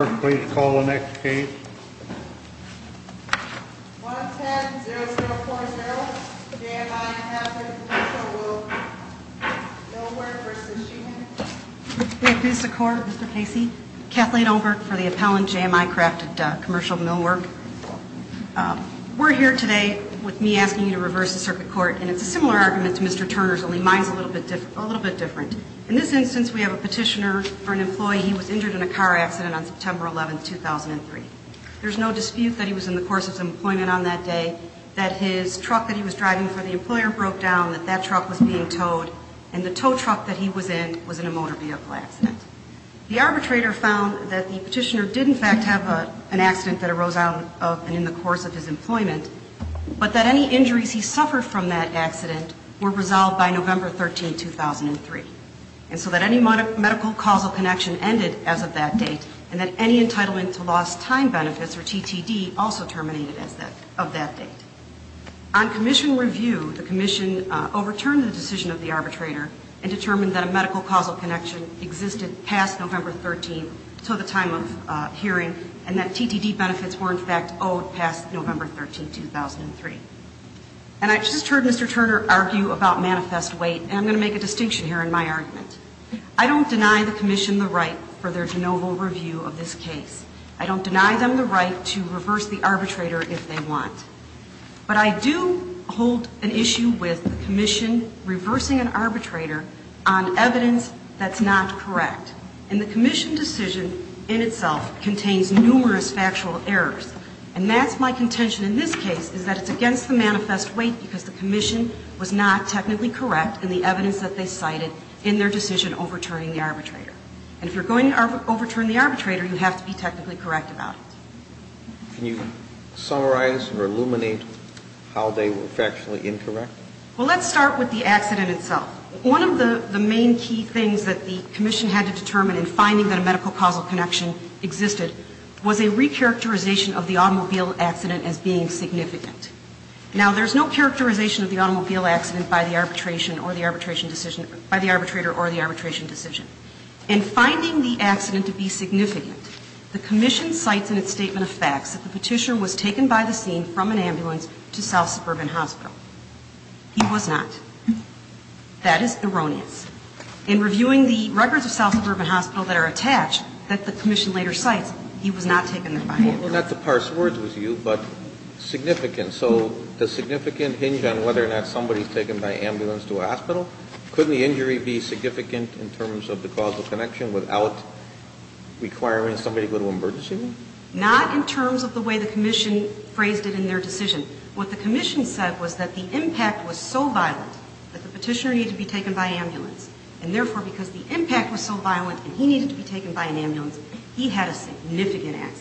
Clerk, please call the next case. 110-0040, JMI Crafted Commercial Millwork. Millwork v. Sheehan. May it please the Court, Mr. Casey. Kathleen Olberg for the appellant, JMI Crafted Commercial Millwork. We're here today with me asking you to reverse the circuit court, and it's a similar argument to Mr. Turner's, only mine's a little bit different. In this instance, we have a petitioner for an employee who was injured in a car accident on September 11, 2003. There's no dispute that he was in the course of some employment on that day, that his truck that he was driving for the employer broke down, that that truck was being towed, and the tow truck that he was in was in a motor vehicle accident. The arbitrator found that the petitioner did, in fact, have an accident that arose out of and in the course of his employment, but that any injuries he suffered from that accident were resolved by November 13, 2003, and so that any medical causal connection ended as of that date, and that any entitlement to lost time benefits, or TTD, also terminated as of that date. On commission review, the commission overturned the decision of the arbitrator and determined that a medical causal connection existed past November 13, until the time of hearing, and that TTD benefits were, in fact, owed past November 13, 2003. And I just heard Mr. Turner argue about manifest weight, and I'm going to make a distinction here in my argument. I don't deny the commission the right for their de novo review of this case. I don't deny them the right to reverse the arbitrator if they want. But I do hold an issue with the commission reversing an arbitrator on evidence that's not correct. And the commission decision in itself contains numerous factual errors. And that's my contention in this case, is that it's against the manifest weight because the commission was not technically correct in the evidence that they cited in their decision overturning the arbitrator. And if you're going to overturn the arbitrator, you have to be technically correct about it. Can you summarize or illuminate how they were factually incorrect? Well, let's start with the accident itself. One of the main key things that the commission had to determine in finding that a medical causal connection existed was a recharacterization of the automobile accident as being significant. Now, there's no characterization of the automobile accident by the arbitration or the arbitration decision, by the arbitrator or the arbitration decision. In finding the accident to be significant, the commission cites in its statement of facts that the petitioner was taken by the scene from an ambulance to South Suburban Hospital. He was not. That is erroneous. In reviewing the records of South Suburban Hospital that are attached that the commission later cites, he was not taken there by ambulance. Well, not to parse words with you, but significant. So does significant hinge on whether or not somebody is taken by ambulance to a hospital? Couldn't the injury be significant in terms of the causal connection without requiring somebody to go to emergency room? Not in terms of the way the commission phrased it in their decision. What the commission said was that the impact was so violent that the petitioner needed to be taken by ambulance. And, therefore, because the impact was so violent and he needed to be taken by an ambulance, he had a significant accident.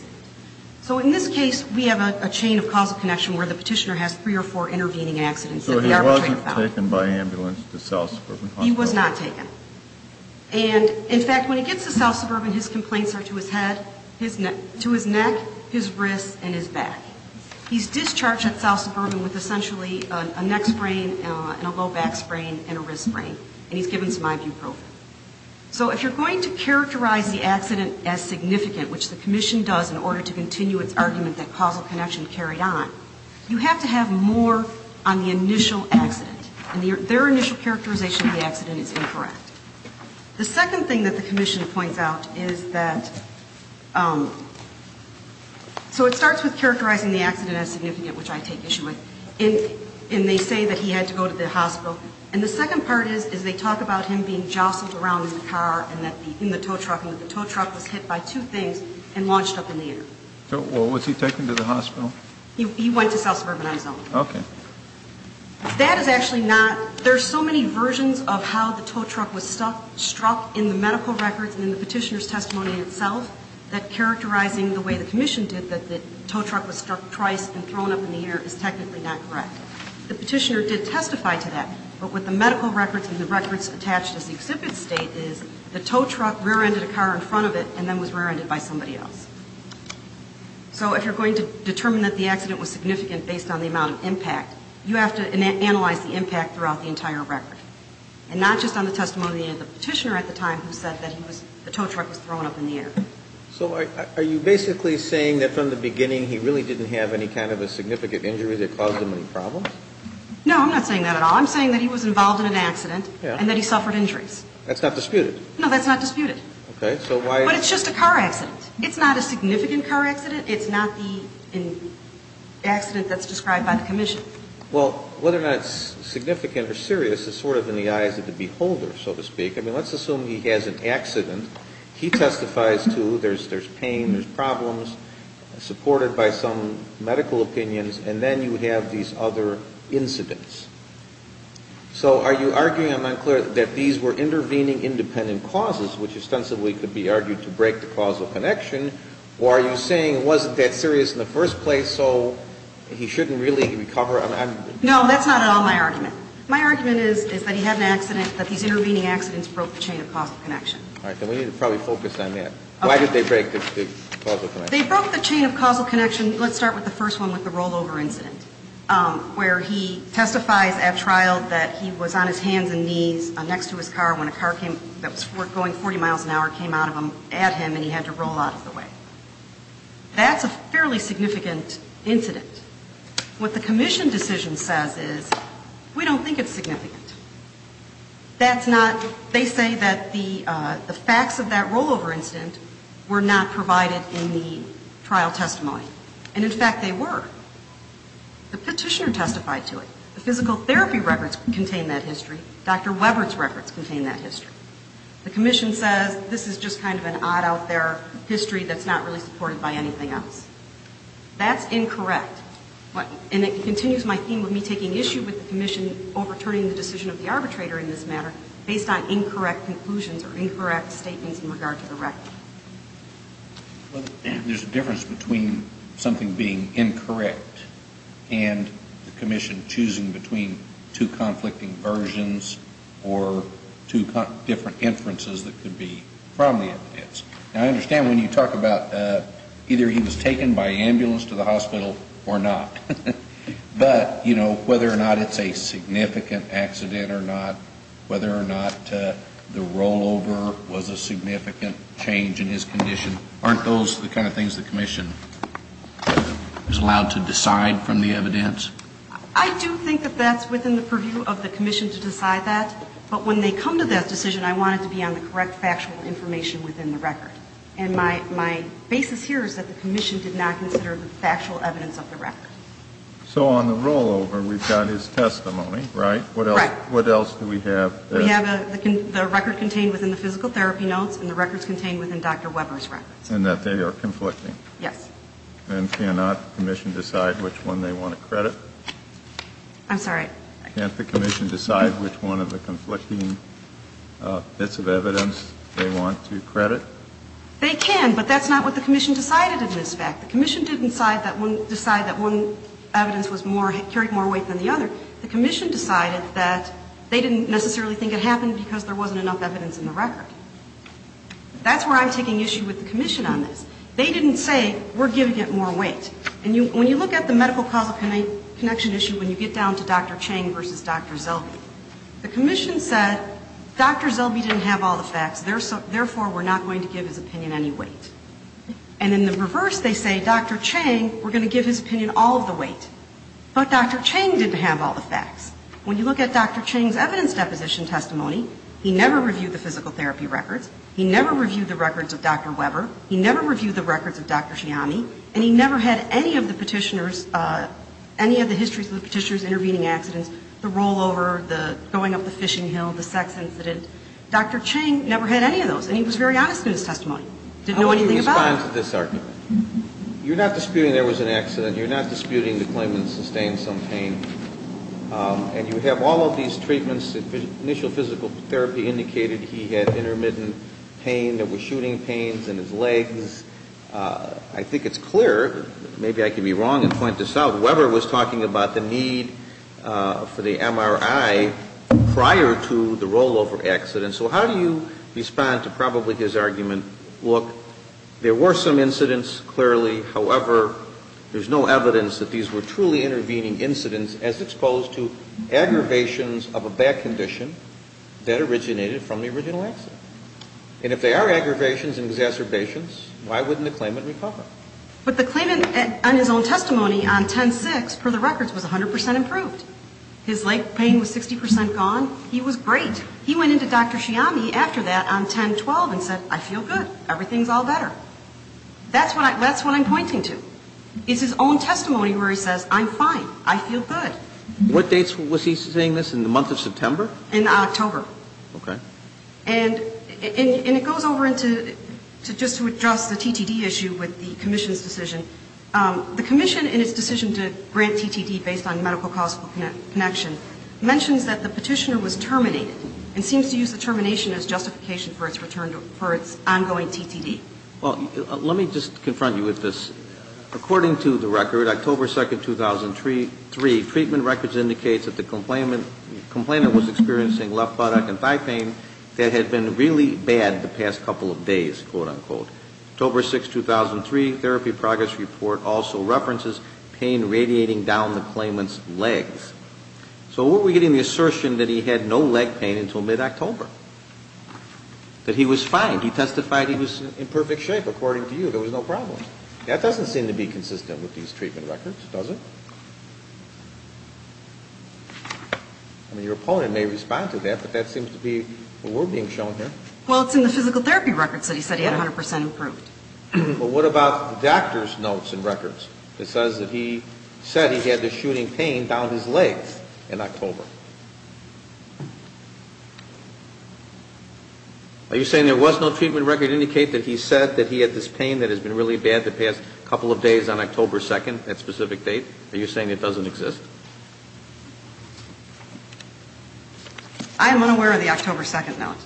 So in this case, we have a chain of causal connection where the petitioner has three or four intervening accidents that the arbitrator found. So he wasn't taken by ambulance to South Suburban Hospital? He was not taken. And, in fact, when he gets to South Suburban, his complaints are to his head, to his neck, his wrists, and his back. He's discharged at South Suburban with essentially a neck sprain and a low back sprain and a wrist sprain. And he's given some ibuprofen. So if you're going to characterize the accident as significant, which the commission does in order to continue its argument that causal connection carried on, you have to have more on the initial accident. And their initial characterization of the accident is incorrect. The second thing that the commission points out is that so it starts with characterizing the accident as significant, which I take issue with. And they say that he had to go to the hospital. And the second part is they talk about him being jostled around in the car and in the tow truck and that the tow truck was hit by two things and launched up in the air. So was he taken to the hospital? He went to South Suburban on his own. Okay. That is actually not – there are so many versions of how the tow truck was struck in the medical records and in the petitioner's testimony itself that characterizing the way the commission did that the tow truck was struck twice and thrown up in the air is technically not correct. The petitioner did testify to that. But with the medical records and the records attached as the exhibit state is the tow truck rear-ended a car in front of it and then was rear-ended by somebody else. So if you're going to determine that the accident was significant based on the amount of impact, you have to analyze the impact throughout the entire record. And not just on the testimony of the petitioner at the time who said that the tow truck was thrown up in the air. So are you basically saying that from the beginning he really didn't have any kind of a significant injury that caused him any problems? No, I'm not saying that at all. I'm saying that he was involved in an accident and that he suffered injuries. That's not disputed? No, that's not disputed. Okay. So why – But it's just a car accident. It's not a significant car accident. It's not the accident that's described by the commission. Well, whether or not it's significant or serious is sort of in the eyes of the beholder, so to speak. I mean, let's assume he has an accident. He testifies to there's pain, there's problems, supported by some medical opinions, and then you have these other incidents. So are you arguing, I'm unclear, that these were intervening independent causes, which ostensibly could be argued to break the causal connection? Or are you saying it wasn't that serious in the first place, so he shouldn't really recover? No, that's not at all my argument. My argument is that he had an accident, that these intervening accidents broke the chain of causal connection. All right. Then we need to probably focus on that. Why did they break the causal connection? They broke the chain of causal connection. Let's start with the first one, with the rollover incident, where he testifies at trial that he was on his hands and knees next to his car when a car that was going 40 miles an hour came out of him, at him, and he had to roll out of the way. That's a fairly significant incident. What the commission decision says is, we don't think it's significant. That's not, they say that the facts of that rollover incident were not provided in the trial testimony. And, in fact, they were. The petitioner testified to it. The physical therapy records contain that history. Dr. Webber's records contain that history. The commission says, this is just kind of an odd-out-there history that's not really supported by anything else. That's incorrect. And it continues my theme of me taking issue with the commission overturning the decision of the arbitrator in this matter, based on incorrect conclusions or incorrect statements in regard to the record. There's a difference between something being incorrect and the commission choosing between two conflicting versions or two different inferences that could be from the evidence. Now, I understand when you talk about either he was taken by ambulance to the hospital or not. But, you know, whether or not it's a significant accident or not, whether or not the rollover was a significant change in his condition, aren't those the kind of things the commission is allowed to decide from the evidence? I do think that that's within the purview of the commission to decide that. But when they come to that decision, I want it to be on the correct factual information within the record. And my basis here is that the commission did not consider the factual evidence of the record. So on the rollover, we've got his testimony, right? Right. What else do we have? We have the record contained within the physical therapy notes and the records contained within Dr. Webber's records. And that they are conflicting? Yes. And cannot the commission decide which one they want to credit? I'm sorry? Can't the commission decide which one of the conflicting bits of evidence they want to credit? They can. But that's not what the commission decided in this fact. The commission didn't decide that one evidence carried more weight than the other. The commission decided that they didn't necessarily think it happened because there wasn't enough evidence in the record. That's where I'm taking issue with the commission on this. They didn't say we're giving it more weight. And when you look at the medical causal connection issue, when you get down to Dr. Chang versus Dr. Zellbe, the commission said Dr. Zellbe didn't have all the facts, therefore, we're not going to give his opinion any weight. And in the reverse, they say Dr. Chang, we're going to give his opinion all of the weight. But Dr. Chang didn't have all the facts. When you look at Dr. Chang's evidence deposition testimony, he never reviewed the physical therapy records. He never reviewed the records of Dr. Webber. He never reviewed the records of Dr. Shiami. And he never had any of the Petitioner's, any of the histories of the Petitioner's intervening accidents, the rollover, the going up the fishing hill, the sex incident. Dr. Chang never had any of those. And he was very honest in his testimony. Didn't know anything about it. How would you respond to this argument? You're not disputing there was an accident. You're not disputing the claimant sustained some pain. And you have all of these treatments. Initial physical therapy indicated he had intermittent pain that was shooting pains in his legs. I think it's clear, maybe I can be wrong and point this out, Webber was talking about the need for the MRI prior to the rollover accident. So how do you respond to probably his argument, look, there were some incidents, clearly. However, there's no evidence that these were truly intervening incidents as exposed to aggravations of a back condition that originated from the original accident. And if they are aggravations and exacerbations, why wouldn't the claimant recover? But the claimant on his own testimony on 10-6, per the records, was 100% improved. His leg pain was 60% gone. He was great. He went into Dr. Chiami after that on 10-12 and said, I feel good. Everything's all better. That's what I'm pointing to. It's his own testimony where he says, I'm fine. I feel good. What dates was he saying this, in the month of September? In October. Okay. And it goes over into just to address the TTD issue with the commission's decision. The commission, in its decision to grant TTD based on medical-causal connection, mentions that the petitioner was terminated and seems to use the termination as justification for its ongoing TTD. Well, let me just confront you with this. According to the record, October 2nd, 2003, treatment records indicates that the complainant was experiencing left buttock and thigh pain that had been really bad the past couple of days, quote-unquote. October 6th, 2003, therapy progress report also references pain radiating down the claimant's legs. So where were we getting the assertion that he had no leg pain until mid-October? That he was fine. He testified he was in perfect shape, according to you. There was no problem. That doesn't seem to be consistent with these treatment records, does it? I mean, your opponent may respond to that, but that seems to be what we're being shown here. Well, it's in the physical therapy records that he said he had 100% improved. But what about the doctor's notes and records that says that he said he had this shooting pain down his legs in October? Are you saying there was no treatment record to indicate that he said that he had this pain that has been really bad the past couple of days on October 2nd, that specific date? Are you saying it doesn't exist? I am unaware of the October 2nd note.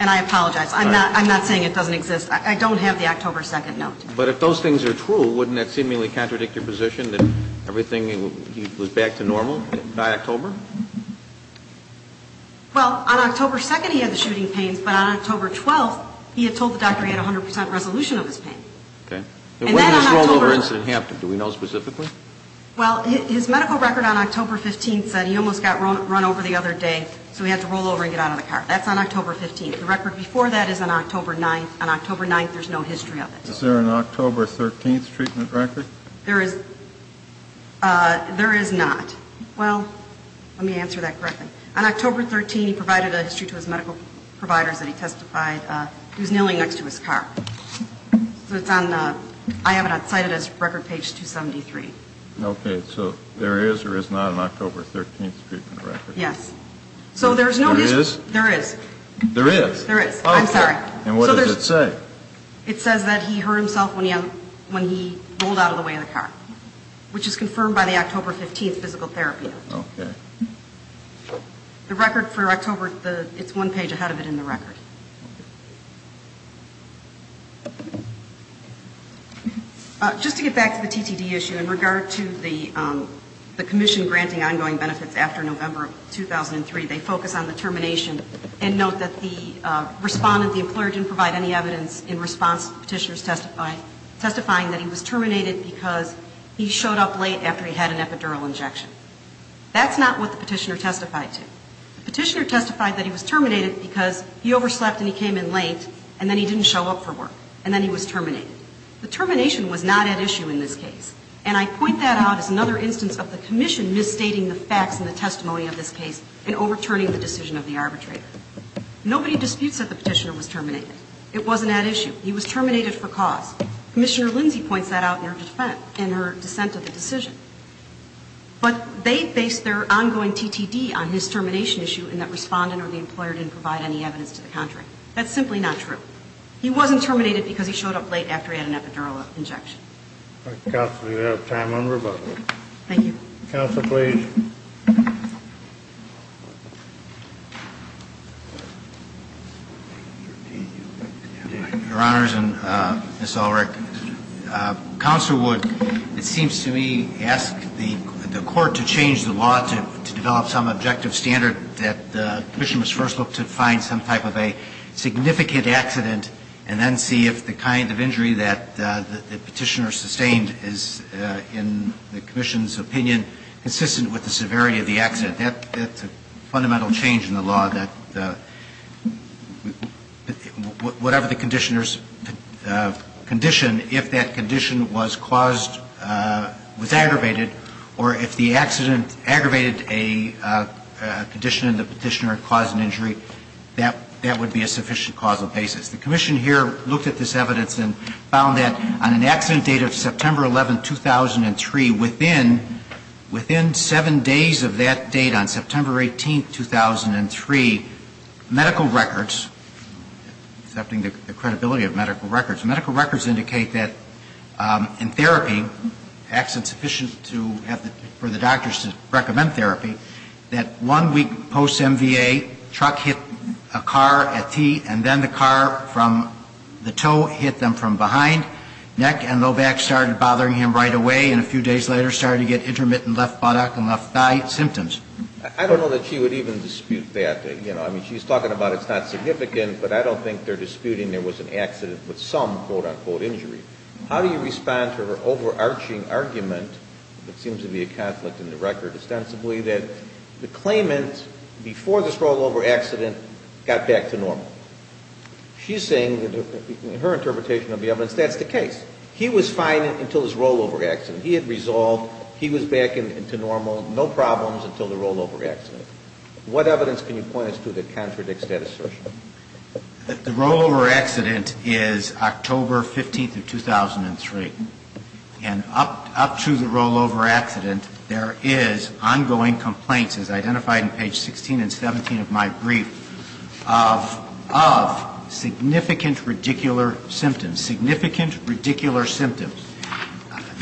And I apologize. I'm not saying it doesn't exist. I don't have the October 2nd note. But if those things are true, wouldn't that seemingly contradict your position that everything was back to normal? By October? Well, on October 2nd, he had the shooting pains. But on October 12th, he had told the doctor he had 100% resolution of his pain. Okay. When did this rollover incident happen? Do we know specifically? Well, his medical record on October 15th said he almost got run over the other day, so he had to rollover and get out of the car. That's on October 15th. The record before that is on October 9th. On October 9th, there's no history of it. Is there an October 13th treatment record? There is not. Well, let me answer that correctly. On October 13th, he provided a history to his medical providers that he testified. He was kneeling next to his car. So it's on the record page 273. Okay. So there is or is not an October 13th treatment record? Yes. There is? There is. There is? There is. I'm sorry. And what does it say? It says that he hurt himself when he rolled out of the way of the car, which is confirmed by the October 15th physical therapy. Okay. The record for October, it's one page ahead of it in the record. Just to get back to the TTD issue, in regard to the commission granting ongoing benefits after November of 2003, they focus on the termination and note that the respondent, the employer, didn't provide any evidence in response to the petitioner's testifying that he was terminated because he showed up late after he had an epidural injection. That's not what the petitioner testified to. The petitioner testified that he was terminated because he overslept and he came in late, and then he didn't show up for work, and then he was terminated. The termination was not at issue in this case. And I point that out as another instance of the commission misstating the facts in the testimony of this case and overturning the decision of the arbitrator. Nobody disputes that the petitioner was terminated. It wasn't at issue. He was terminated for cause. Commissioner Lindsay points that out in her dissent of the decision. But they base their ongoing TTD on his termination issue in that respondent or the employer didn't provide any evidence to the contrary. That's simply not true. He wasn't terminated because he showed up late after he had an epidural injection. Thank you. Counsel, do we have time? Thank you. Counsel, please. Your Honors and Ms. Ulrich. Counsel would, it seems to me, ask the court to change the law to develop some objective standard that the commission must first look to find some type of a significant accident and then see if the kind of injury that the petitioner sustained is, in the commission's opinion, consistent with the severity of the accident. That's a fundamental change in the law that whatever the conditioners condition, if that condition was caused, was aggravated, or if the accident aggravated a condition and the petitioner caused an injury, that would be a sufficient causal basis. The commission here looked at this evidence and found that on an accident date of September 11, 2003, within seven days of that date, on September 18, 2003, medical records, accepting the credibility of medical records, medical records indicate that in therapy, sufficient to have the, for the doctors to recommend therapy, that one week post-MVA, truck hit a car at T, and then the car from the toe hit them from behind, neck and low back started bothering him right away, and a few days later started to get intermittent left buttock and left thigh symptoms. I don't know that she would even dispute that. You know, I mean, she's talking about it's not significant, but I don't think they're disputing there was an accident with some, quote, unquote, injury. How do you respond to her overarching argument that seems to be a conflict in the record ostensibly that the claimant, before this rollover accident, got back to normal? She's saying, in her interpretation of the evidence, that's the case. He was fine until this rollover accident. He had resolved, he was back to normal, no problems until the rollover accident. What evidence can you point us to that contradicts that assertion? The rollover accident is October 15th of 2003. And up to the rollover accident, there is ongoing complaints, as identified in page 16 and 17 of my brief, of significant radicular symptoms. Significant radicular symptoms.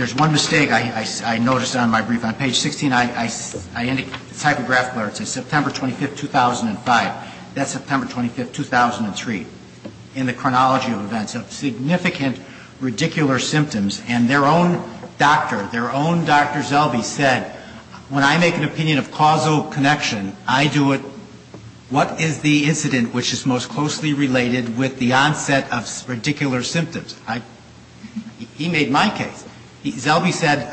On page 16, it's a typographical error. It says September 25th, 2005. That's September 25th, 2003. In the chronology of events, of significant radicular symptoms, and their own doctor, their own Dr. Zelby said, when I make an opinion of causal connection, I do it, what is the incident which is most closely related with the onset of radicular symptoms? He made my case. Zelby said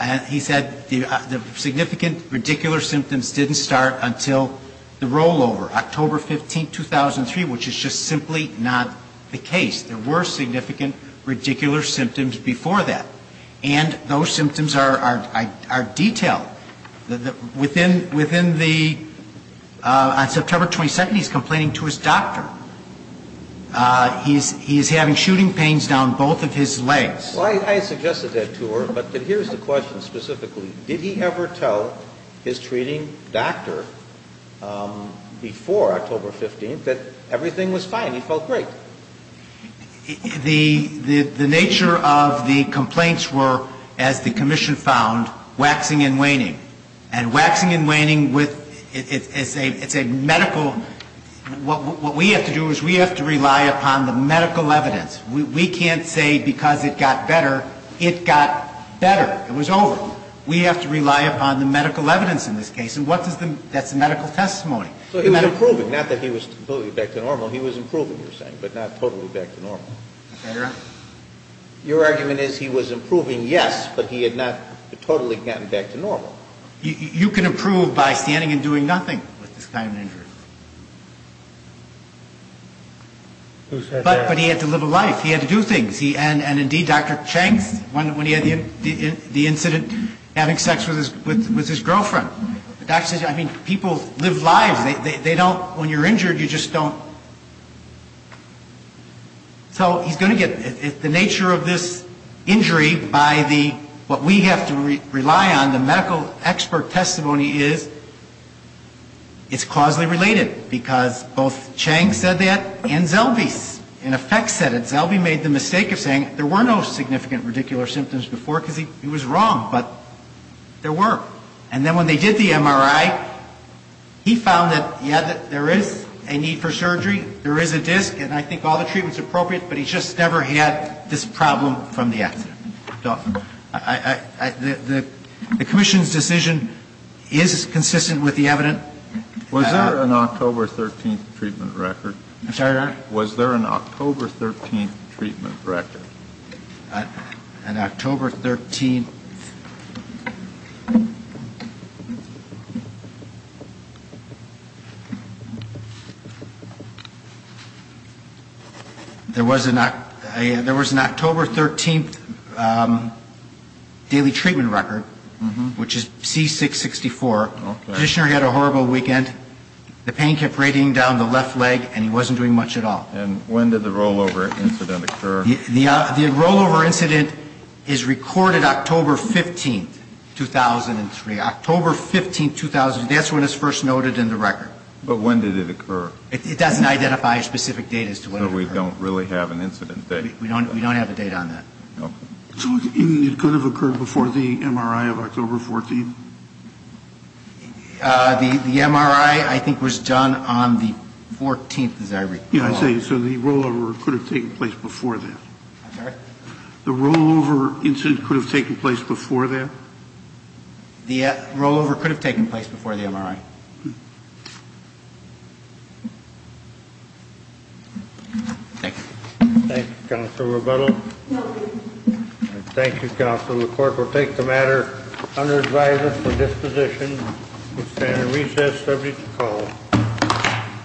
the significant radicular symptoms didn't start until the rollover, October 15th, 2003, which is just simply not the case. There were significant radicular symptoms before that. And those symptoms are detailed. Within the, on September 22nd, he's complaining to his doctor. He's having shooting pains down both of his legs. I suggested that to her, but here's the question specifically. Did he ever tell his treating doctor before October 15th that everything was fine, he felt great? The nature of the complaints were, as the commission found, waxing and waning. And waxing and waning with, it's a medical, what we have to do is we have to rely upon the medical evidence. We can't say because it got better, it got better. It was over. We have to rely upon the medical evidence in this case. And what does the, that's the medical testimony. So he was improving, not that he was totally back to normal. He was improving, you're saying, but not totally back to normal. Your argument is he was improving, yes, but he had not totally gotten back to normal. You can improve by standing and doing nothing with this kind of injury. Who said that? But he had to live a life. He had to do things. And indeed, Dr. Chang, when he had the incident, having sex with his girlfriend. The doctor says, I mean, people live lives. They don't, when you're injured, you just don't. So he's going to get, the nature of this injury by the, what we have to rely on, the medical expert testimony is, it's causally related, because both Chang said that and Zellwey in effect said it. Zellwey made the mistake of saying there were no significant radicular symptoms before, because he was wrong. But there were. And then when they did the MRI, he found that, yeah, there is a need for surgery. There is a disc. And I think all the treatment is appropriate, but he just never had this problem from the accident. The commission's decision is consistent with the evidence. Was there an October 13th treatment record? I'm sorry, Your Honor? Was there an October 13th treatment record? An October 13th. There was an October 13th daily treatment record, which is C-664. The practitioner had a horrible weekend. The pain kept radiating down the left leg, and he wasn't doing much at all. And when did the rollover incident occur? The rollover incident is recorded October 15th. October 15th, 2003. October 15th, 2003. That's when it's first noted in the record. But when did it occur? It doesn't identify a specific date as to when it occurred. So we don't really have an incident date? We don't have a date on that. Okay. So it could have occurred before the MRI of October 14th? The MRI, I think, was done on the 14th, as I recall. So the rollover could have taken place before that? I'm sorry? The rollover incident could have taken place before that? The rollover could have taken place before the MRI. Thank you. Thank you, Counsel Rebuttal. Thank you, Counsel. The Court will take the matter under advisory for disposition. We stand at recess. Subject to call.